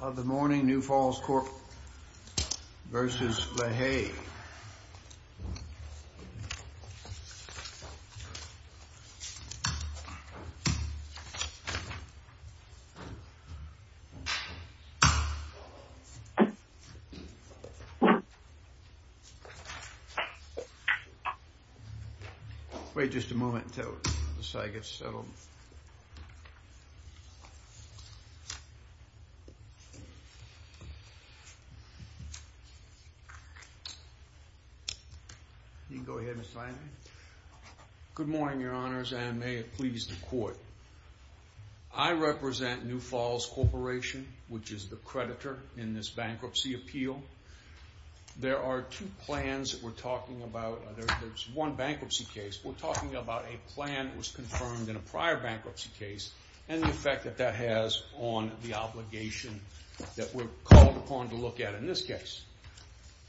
of the morning New Falls Corp. v. LaHaye wait just a moment until this side gets settled you can go ahead Mr. Landry good morning your honors and may it please the court I represent New Falls Corporation which is the creditor in this bankruptcy appeal there are two plans that we're talking about there's one bankruptcy case we're talking about a plan that was confirmed in a prior bankruptcy case and the effect that that has on the obligation that we're called upon to look at in this case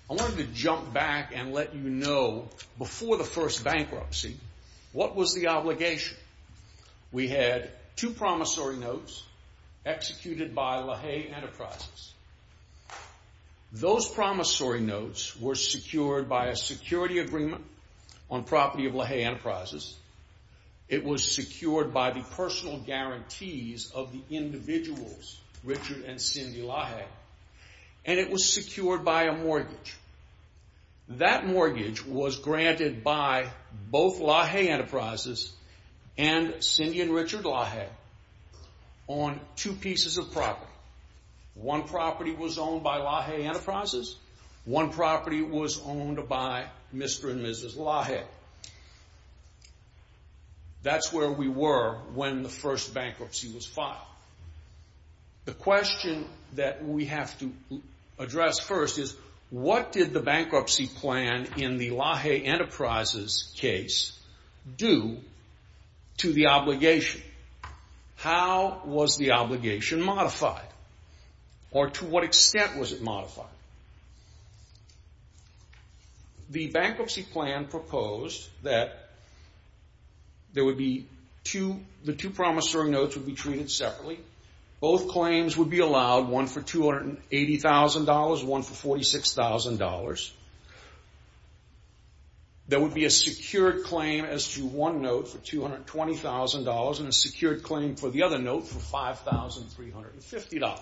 I wanted to jump back and let you know before the first bankruptcy what was the obligation we had two promissory notes executed by LaHaye Enterprises those promissory notes were secured by a security agreement on property of LaHaye Enterprises it was secured by the personal guarantees of the individuals Richard and Cindy LaHaye and it was secured by a mortgage that mortgage was granted by both LaHaye Enterprises and Cindy and Richard LaHaye on two pieces of property one property was owned by LaHaye Enterprises one property was owned by Mr. and Mrs. LaHaye that's where we were when the first bankruptcy was filed the question that we have to address first is what did the bankruptcy plan in the LaHaye Enterprises case do to the obligation how was the obligation modified or to what extent was it modified the bankruptcy plan proposed that the two promissory notes would be treated separately both claims would be allowed one for $280,000, one for $46,000 there would be a secured claim as to one note for $220,000 and a secured claim for the other note for $5,350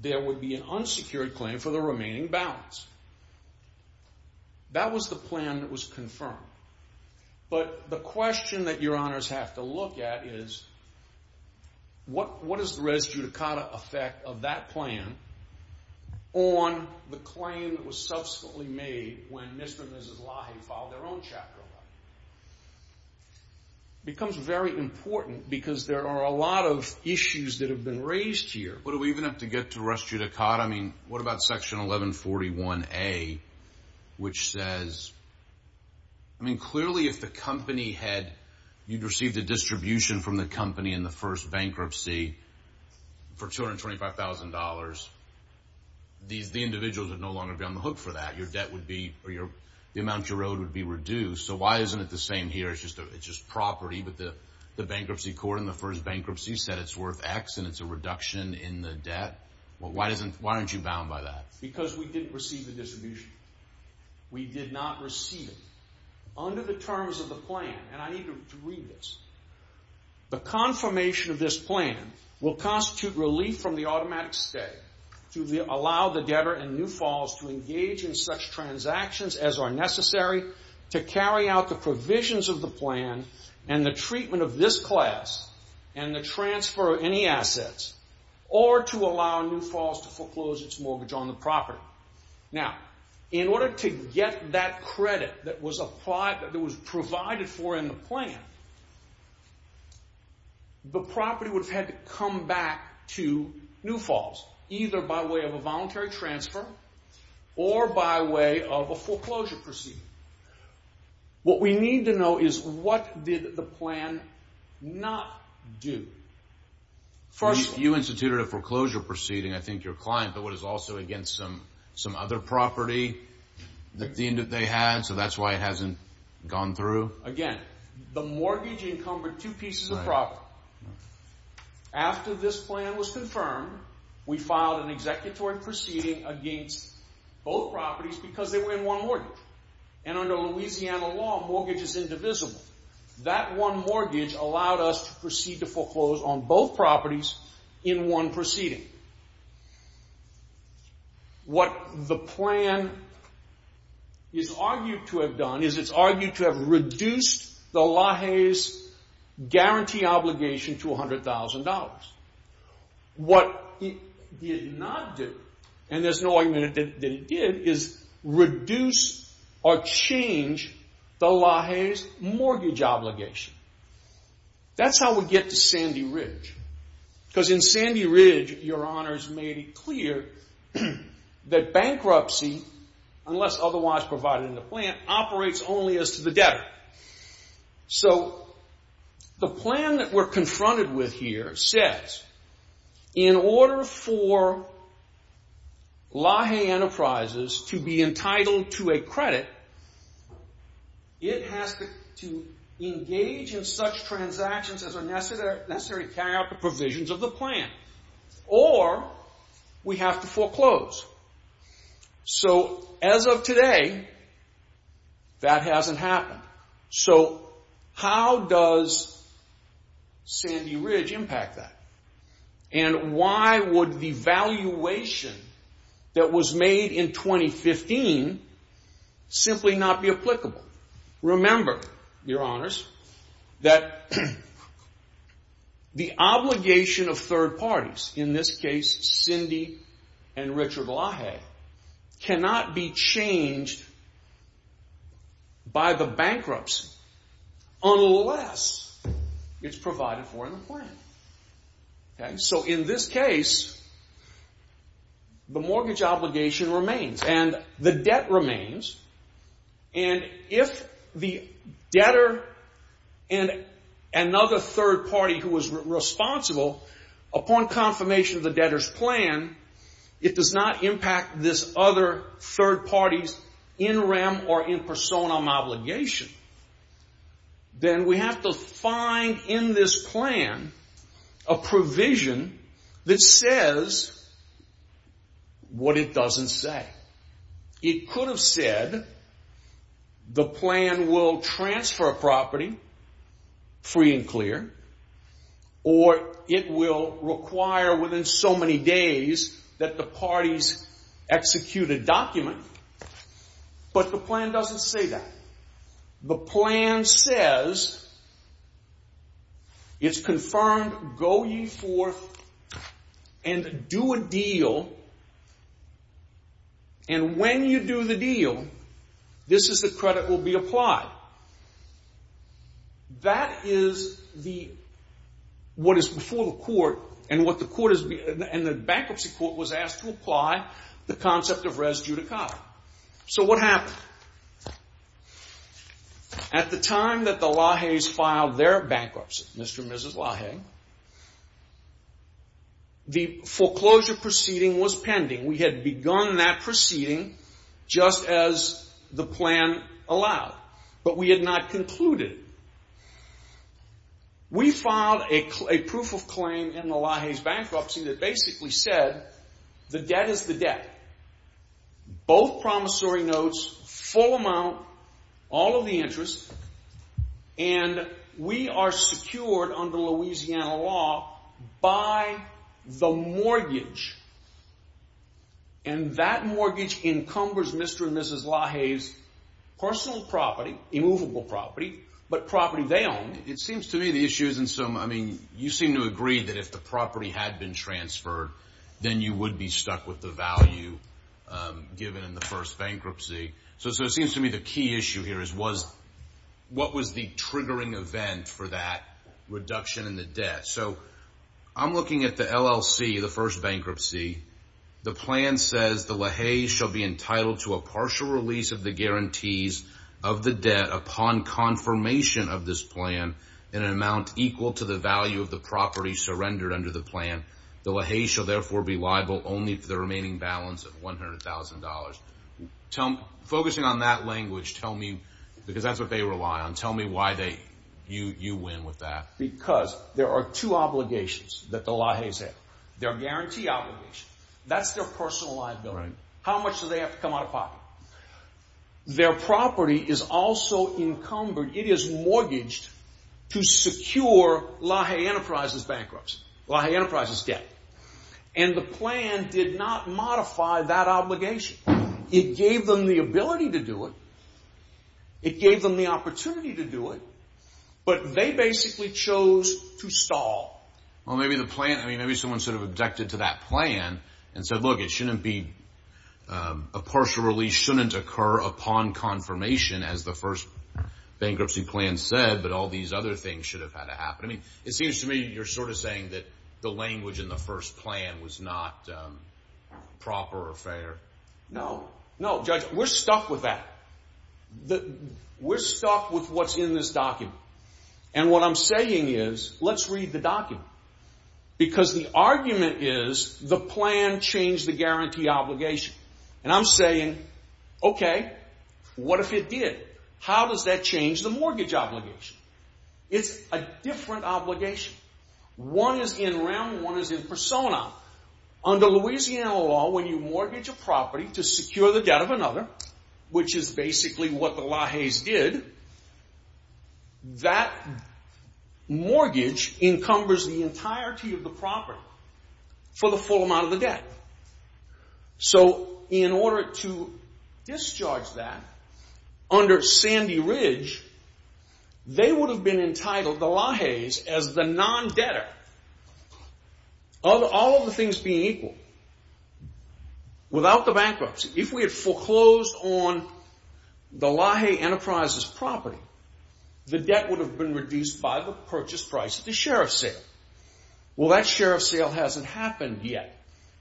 there would be an unsecured claim for the remaining balance that was the plan that was confirmed but the question that your honors have to look at is what is the res judicata effect of that plan on the claim that was subsequently made when Mr. and Mrs. LaHaye filed their own chapter law it becomes very important because there are a lot of issues that have been raised here but do we even have to get to res judicata I mean what about section 1141A which says I mean clearly if the company had you'd received a distribution from the company in the first bankruptcy for $225,000 the individuals would no longer be on the hook for that your debt would be, the amount you're owed would be reduced so why isn't it the same here it's just property but the bankruptcy court in the first bankruptcy said it's worth X and it's a reduction in the debt why aren't you bound by that because we didn't receive the distribution we did not receive it under the terms of the plan and I need you to read this the confirmation of this plan will constitute relief from the automatic stay to allow the debtor in New Falls to engage in such transactions as are necessary to carry out the provisions of the plan and the treatment of this class and the transfer of any assets or to allow New Falls to foreclose its mortgage on the property now in order to get that credit that was provided for in the plan the property would have had to come back to New Falls either by way of a voluntary transfer or by way of a foreclosure proceeding what we need to know is what did the plan not do first you instituted a foreclosure proceeding I think your client but what is also against some other property that they had so that's why it hasn't gone through again, the mortgage encumbered two pieces of property after this plan was confirmed we filed an executory proceeding against both properties because they were in one mortgage and under Louisiana law mortgage is indivisible that one mortgage allowed us to proceed to foreclose on both properties in one proceeding what the plan is argued to have done is it's argued to have reduced the LAHEY's guarantee obligation to $100,000 what it did not do and there's no argument that it did is reduce or change the LAHEY's mortgage obligation that's how we get to Sandy Ridge because in Sandy Ridge your honors made it clear that bankruptcy unless otherwise provided in the plan operates only as to the debtor so the plan that we're confronted with here says in order for LAHEY enterprises to be entitled to a credit it has to engage in such transactions as are necessary to carry out the provisions of the plan or we have to foreclose so as of today that hasn't happened so how does Sandy Ridge impact that and why would the valuation that was made in 2015 simply not be applicable remember your honors that the obligation of third parties in this case Cindy and Richard LAHEY cannot be changed by the bankruptcy unless it's provided for in the plan so in this case the mortgage obligation remains and the debt remains and if the debtor and another third party who was responsible upon confirmation of the debtor's plan it does not impact this other third party's in rem or in personam obligation then we have to find in this plan a provision that says what it doesn't say it could have said the plan will transfer a property free and clear or it will require within so many days that the parties execute a document but the plan doesn't say that the plan says it's confirmed go ye forth and do a deal and when you do the deal this is the credit will be applied that is the what is before the court and the bankruptcy court was asked to apply the concept of res judicata so what happened at the time that the LAHEY's filed their bankruptcy Mr. and Mrs. LAHEY the foreclosure proceeding was pending we had begun that proceeding just as the plan allowed but we had not concluded we filed a proof of claim in the LAHEY's bankruptcy that basically said the debt is the debt both promissory notes full amount all of the interest and we are secured under Louisiana law by the mortgage and that mortgage encumbers Mr. and Mrs. LAHEY's personal property immovable property but property they own it seems to me the issues you seem to agree that if the property had been transferred then you would be stuck with the value given in the first bankruptcy so it seems to me the key issue here was what was the triggering event for that reduction in the debt so I'm looking at the LLC the first bankruptcy the plan says the LAHEY's shall be entitled to a partial release of the guarantees of the debt upon confirmation of this plan in an amount equal to the value of the property surrendered under the plan the LAHEY's shall therefore be liable only for the remaining balance of $100,000 focusing on that language tell me because that's what they rely on tell me why you win with that because there are two obligations that the LAHEY's have their guarantee obligation that's their personal liability how much do they have to come out of pocket their property is also encumbered it is mortgaged to secure LAHEY Enterprise's bankruptcy LAHEY Enterprise's debt and the plan did not modify that obligation it gave them the ability to do it it gave them the opportunity to do it but they basically chose to stall well maybe the plan maybe someone sort of objected to that plan and said look it shouldn't be a partial release shouldn't occur upon confirmation as the first bankruptcy plan said but all these other things should have had to happen I mean it seems to me you're sort of saying that the language in the first plan was not proper or fair no, no judge we're stuck with that we're stuck with what's in this document and what I'm saying is let's read the document because the argument is the plan changed the guarantee obligation and I'm saying okay what if it did? how does that change the mortgage obligation? it's a different obligation one is in REM one is in PERSONA under Louisiana law when you mortgage a property to secure the debt of another which is basically what the LAHEY's did that mortgage encumbers the entirety of the property for the full amount of the debt so in order to discharge that under Sandy Ridge they would have been entitled the LAHEY's as the non-debtor of all of the things being equal without the bankruptcy if we had foreclosed on the LAHEY Enterprises property the debt would have been reduced by the purchase price of the sheriff's sale well that sheriff's sale hasn't happened yet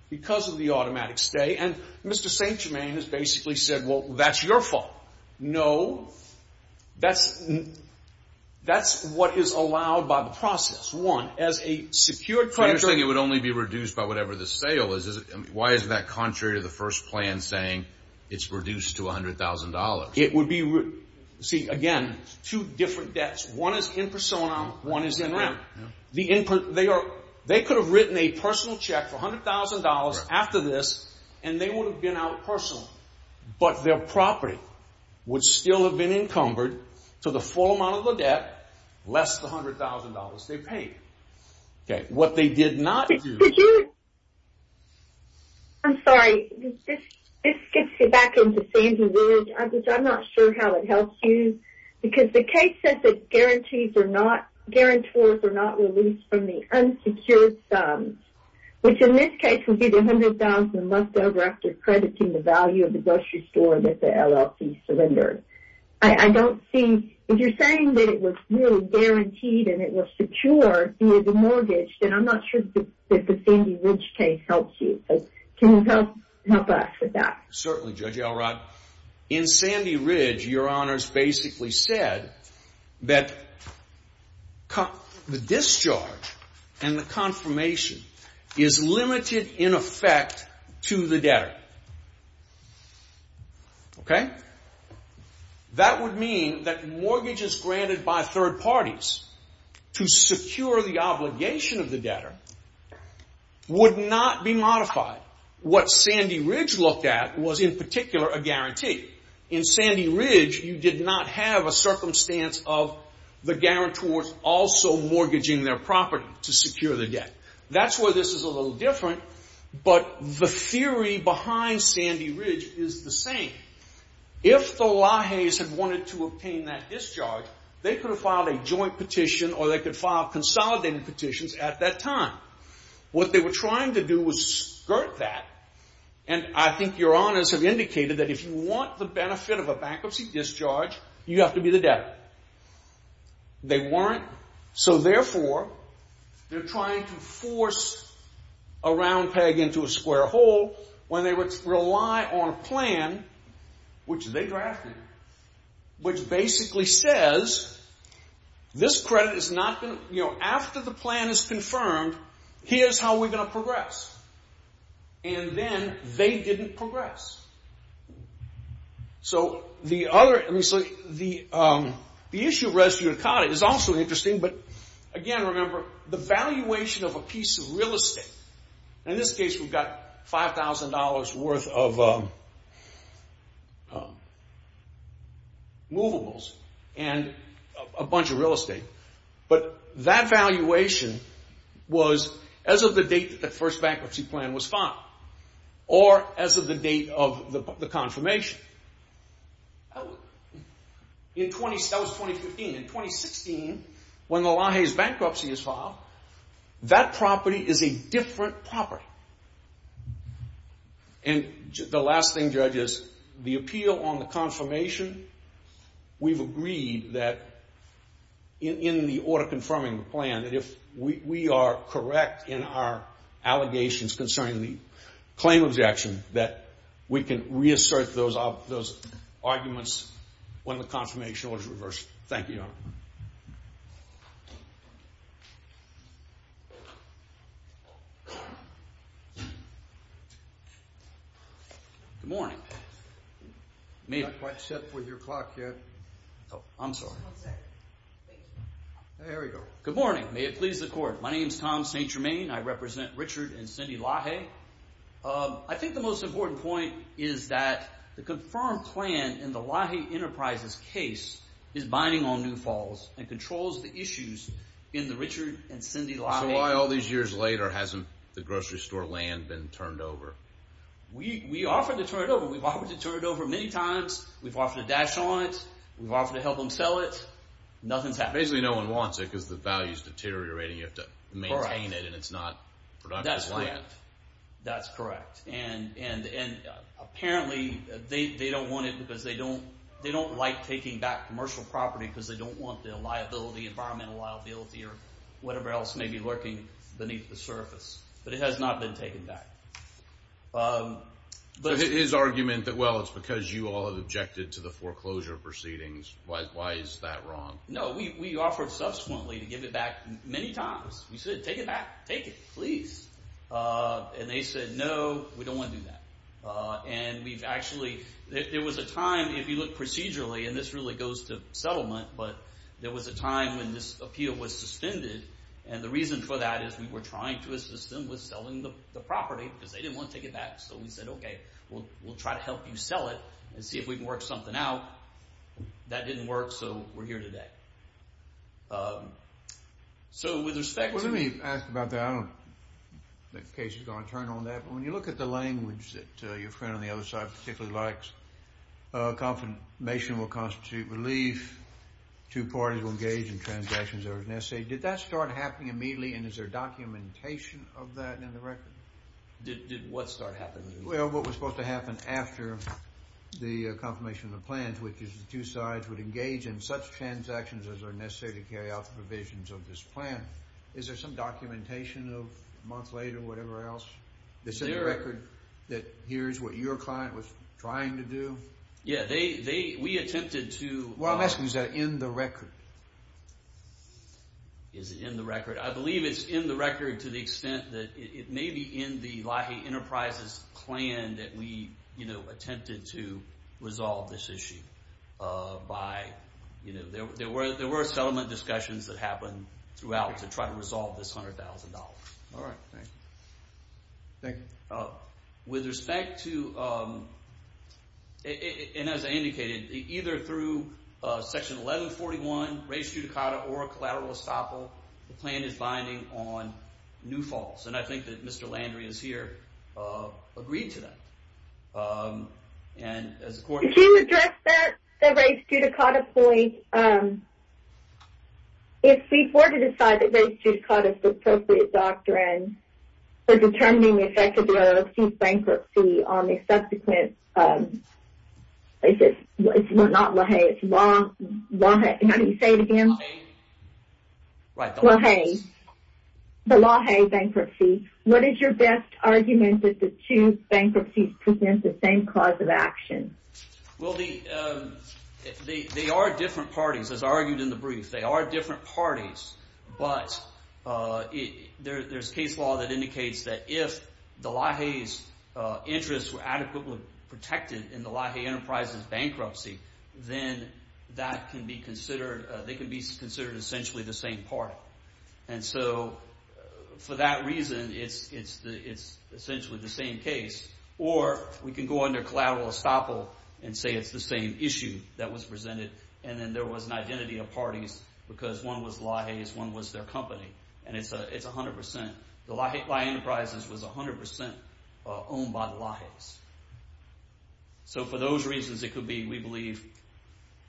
because of the automatic stay and Mr. St. Germain has basically said well that's your fault no that's that's what is allowed by the process one, as a secured credit so you're saying it would only be reduced by whatever the sale is why is that contrary to the first plan saying it's reduced to $100,000 it would be see again two different debts one is in PERSONA one is in REM they could have written a personal check for $100,000 after this and they would have been out personally but their property would still have been encumbered to the full amount of the debt less than $100,000 they paid okay what they did not do I'm sorry this gets me back into Sandy Ridge I'm not sure how it helps you because the case says that guarantees are not guarantors are not released from the unsecured sums which in this case would be the $100,000 left over after crediting the value of the grocery store that the LLC surrendered I don't see if you're saying that it was really guaranteed and it was secure via the mortgage then I'm not sure that the Sandy Ridge case helps you can you help us with that certainly Judge Elrod in Sandy Ridge your honors basically said that the discharge and the confirmation is limited in effect to the debtor okay that would mean that mortgages granted by third parties to secure the obligation of the debtor would not be modified what Sandy Ridge looked at was in particular a guarantee in Sandy Ridge you did not have a circumstance of the guarantors also mortgaging their property to secure the debt that's where this is a little different but the theory behind Sandy Ridge is the same if the Lajes had wanted to obtain that discharge they could have filed a joint petition or they could file consolidated petitions at that time what they were trying to do was skirt that and I think your honors have indicated that if you want the benefit of a bankruptcy discharge you have to be the debtor they weren't so therefore they're trying to force a round peg into a square hole when they would rely on a plan which they drafted which basically says this credit is not going to you know after the plan is confirmed here's how we're going to progress and then they didn't progress so the other the issue of res judicata is also interesting but again remember the valuation of a piece of real estate in this case we've got $5,000 worth of movables and a bunch of real estate but that valuation was as of the date that the first bankruptcy plan was filed or as of the date of the confirmation in 20 that was 2015 in 2016 when the Laje's bankruptcy is filed that property is a different property and the last thing judges the appeal on the confirmation we've agreed that in the order confirming the plan that if we are correct in our allegations concerning the claim of the action that we can reassert those arguments when the confirmation was reversed thank you your honor good morning I'm not quite set with your clock yet I'm sorry there we go good morning may it please the court my name is Tom St. Germain I represent Richard and Cindy Laje I think the most important point is that the confirmed plan in the Laje Enterprises case is binding on New Falls and controls the issues in the Richard and Cindy Laje so why all these years later hasn't the grocery store land been turned over we offered to turn it over we've offered to turn it over many times we've offered to dash on it we've offered to help them sell it nothing's happened basically no one wants it because the value is deteriorating you have to maintain it and it's not productive land that's correct and apparently they don't want it because they don't they don't like taking back commercial property because they don't want the liability environmental liability or whatever else may be lurking beneath the surface but it has not been taken back but his argument that well it's because you all have objected to the foreclosure proceedings why is that wrong no we offered subsequently to give it back many times we said take it back take it please and they said no we don't want to do that and we've actually there was a time if you look procedurally and this really goes to settlement but there was a time when this appeal was suspended and the reason for that is we were trying to assist them with selling the property because they didn't want to take it back so we said okay we'll try to help you sell it and see if we can work something out that didn't work so we're here today so with respect to let me ask about that I don't in case you're going to look at the language that your friend on the other side particularly likes confirmation will constitute relief two parties will engage in transactions that are necessary did that start happening immediately and is there documentation of that in the record did what start happening well what was supposed to happen after the confirmation of the plans which is the two sides would engage in such transactions as are necessary to carry out the provisions of this plan is there some documentation of a month later or whatever else that's in the record that here's what your client was trying to do yeah they we attempted to well I'm asking is that in the record is it in the record I believe it's in the record to the extent that it may be in the Lahey Enterprises plan that we you know attempted to resolve this issue by you know there were settlement discussions that happened throughout the year were trying to try to resolve this $100,000 all right thank you thank you with respect to and as I indicated either through section 1141 race judicata or a collateral estoppel the plan is binding on new falls and I think that Mr. Landry is here agreed to that and as a court can you address that the race judicata point if we were to decide that race judicata is the appropriate doctrine for determining the effect of bankruptcy on the subsequent it's not Lahey it's Lahey how do you say it again Lahey the Lahey bankruptcy what is your best argument that the two bankruptcies present the same cause of action well the they are different parties as argued in the brief they are different parties but there's case law that indicates that if the Lahey's interests were adequately protected in the Lahey enterprises bankruptcy then that can be considered essentially the same party and so for that reason it's essentially the same case or we can go under collateral estoppel and say it's the same issue that was presented and then there was an identity of parties because one was Lahey's one was their company and it's 100% the Lahey enterprises was 100% owned by the Lahey's so for those reasons it could be we believe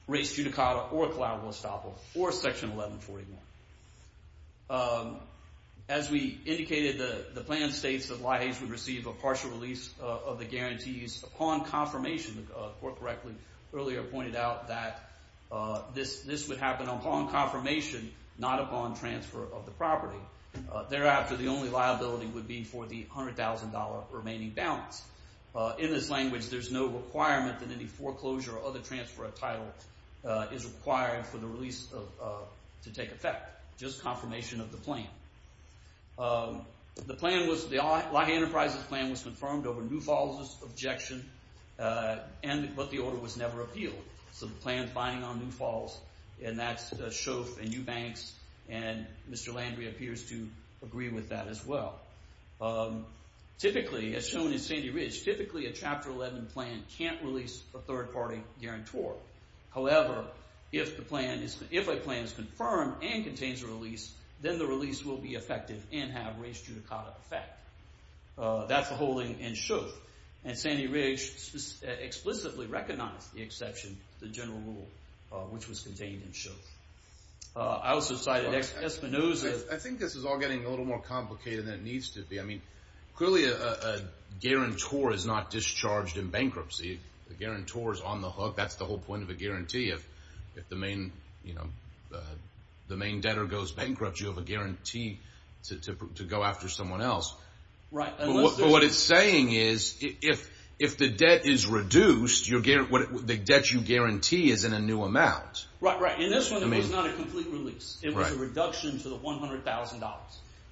race judicata or collateral estoppel or section 1141 as we indicated the plan states that Lahey's would receive a partial release of the guarantees upon confirmation the court correctly earlier pointed out that this would happen upon confirmation not upon transfer of the property thereafter the only liability would be for the $100,000 remaining balance in this language there's no requirement that any foreclosure or other transfer of title is required for the release of to take effect just confirmation of the plan the plan was the Lahey enterprises plan was confirmed over New Falls objection but the order was never appealed so the Sandy Ridge typically a Chapter 11 plan can't release a third party guarantor however if a plan is confirmed and contains a release then the release will be effective and have race judicata effect that's the whole thing and Sandy Ridge explicitly recognized the exception the general rule which was that the guarantor is not discharged in bankruptcy the guarantor is on the hook that's the whole point of the guarantee if the main debtor goes bankrupt you have a guarantee to go after someone else what it's saying is if the debt is reduced the debt you guarantee is in a new amount and it's not a complete release it was a reduction to the $100,000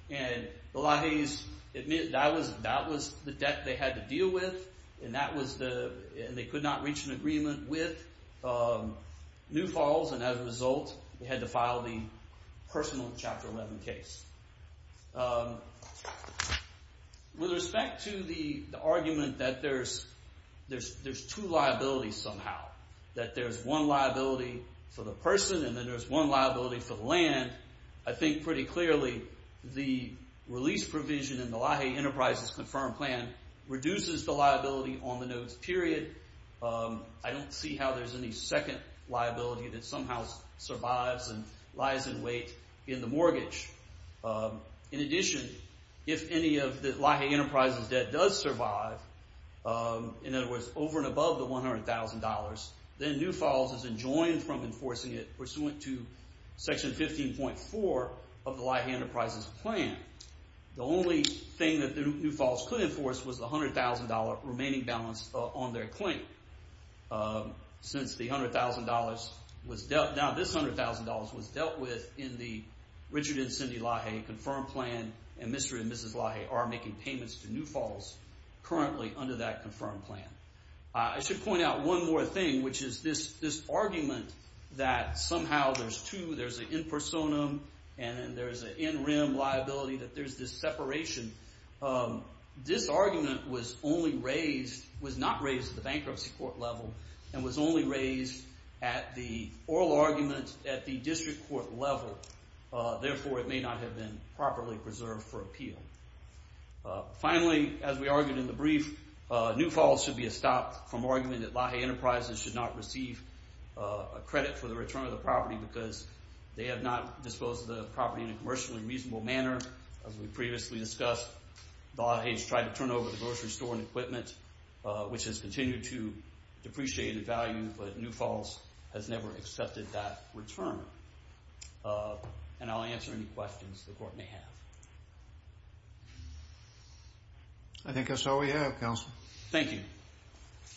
and the Lajes admit that was the debt they had to deal with and they could not reach an agreement with New Falls and as a result they had to file the personal chapter 11 case with respect to the argument that there's two liabilities somehow that there's one liability for the person and then there's one liability for the land I think pretty clearly the release provision in the Lajes enterprises confirmed plan reduces the liability on the notes period I don't see how there's any second liability that somehow survives and in addition if any of the Lajes enterprises debt does survive in other words over and above the $100,000 then New Falls is enjoined from enforcing it pursuant to section 15.4 of the Lajes enterprises plan the only thing that New Falls could enforce was the $100,000 remaining balance on their claim since the $100,000 was dealt now this $100,000 was dealt with in the Richard and Cindy Lajes confirmed plan and Mr. and Mrs. Lajes are making payments to New Falls currently under that confirmed plan. I should point out one more thing which is this argument that somehow there's two there's an in-personam and then there's an in-rim liability that there's this separation this argument was only raised was not raised at the bankruptcy court level and was only raised at the oral argument at the district court level therefore it may not have been properly preserved for appeal. Finally as we argued in the brief New Falls should be a stop from argument that Lajes enterprises should not be bankruptcy agreement. As we previously discussed Lajes tried to turn over the grocery store and equipment which has continued to depreciate in value but New Falls has never accepted that return. And I'll answer any questions the court may have. I think that's all we have on the question is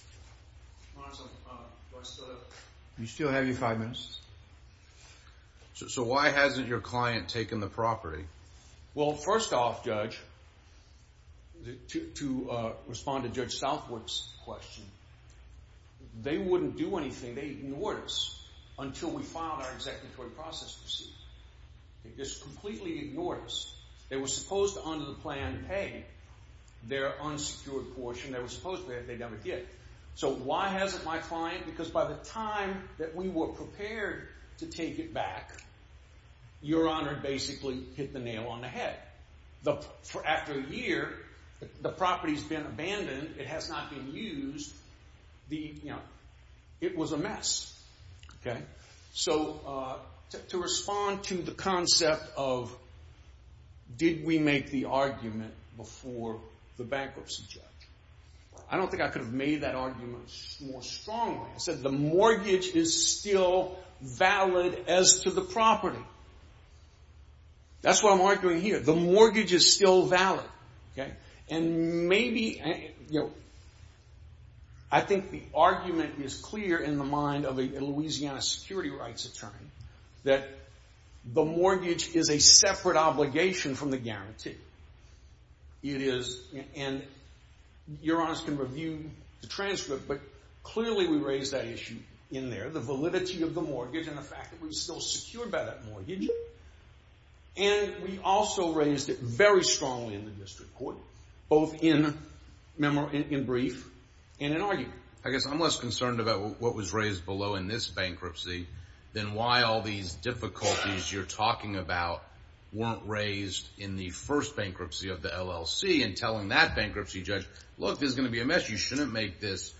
why has the client not been given the property? Well first off judge to respond to judge south works question they wouldn't do anything they ignored us until we filed our executive process proceed they just ignored us. They were supposed to under the plan pay their unsecured portion they never did. So why hasn't my client because by the time we were prepared to take it back your honor basically hit the nail on the head. After a year the property has been abandoned it has not been used it was a mess. So to respond to the concept of did we make the argument before the bankruptcy judge? I don't think I could have made that argument more strongly. I said the mortgage is still valid as to the property. That's why I'm arguing here the mortgage is still valid and maybe I think the argument is clear in the mind of a Louisiana security rights attorney that the mortgage is a guarantee. It is and your honor can review the transcript but clearly we raised that issue in there the validity of the mortgage and the fact that we're still secured by that mortgage and we also raised it very strongly in the district court both in brief and in argument. I guess I'm less concerned about what was raised below in this bankruptcy than why all these difficulties you're talking about weren't raised in the first bankruptcy of the LLC and telling that bankruptcy judge look this is going to be a mess you shouldn't make this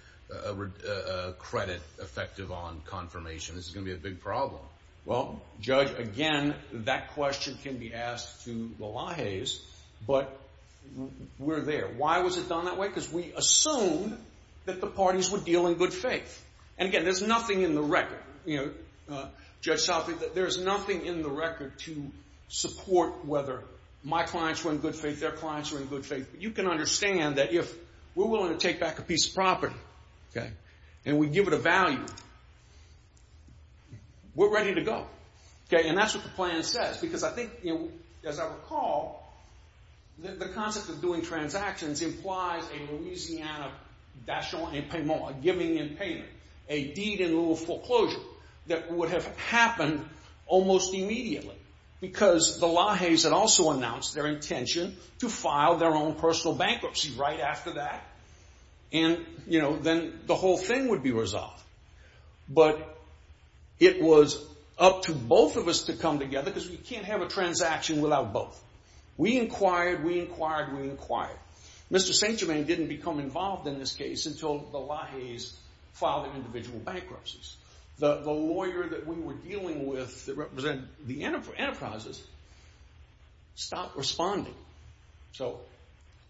credit effective on confirmation. This is going to be a big problem. Well judge again that question can be asked to the Lahays but we're there. Why was it done that way? Because we assumed that the parties would deal in good faith and again there's nothing in the record to support whether my clients were in good faith, their clients were in good faith. You can understand that if we're willing to take back a piece of property and we give it a value we're ready to go. That's what the plan says. As I recall the concept of doing transactions implies a Louisiana giving in payment. A deed in foreclosure that would have happened almost immediately because the Lahays had also announced their intention to file their own personal bankruptcy right after that and then the whole thing would be resolved. But it was up to both of us to come together because we can't have a transaction without both. We inquired, we inquired, we inquired. Mr. St. Germain didn't become involved in this case until the Lahays filed their individual bankruptcies. The lawyer that we were dealing with that represented the enterprises stopped responding. So...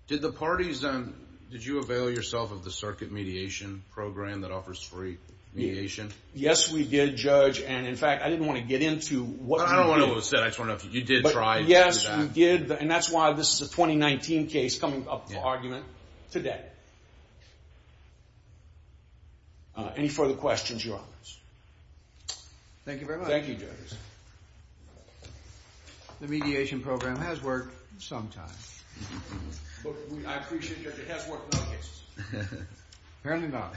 Did the parties... Did you avail yourself of the circuit mediation program that offers free mediation? Yes, we did, Judge. And in fact, I didn't want to get into... I don't want to lose that. I just want to know if you did try to do that. Yes, we did. And that's why this is a 2019 case coming up for argument today. Any further questions, Your Honors? Thank you very much. Thank you, Judge. The mediation program has worked sometimes. But I appreciate that it has worked in other cases. Apparently not.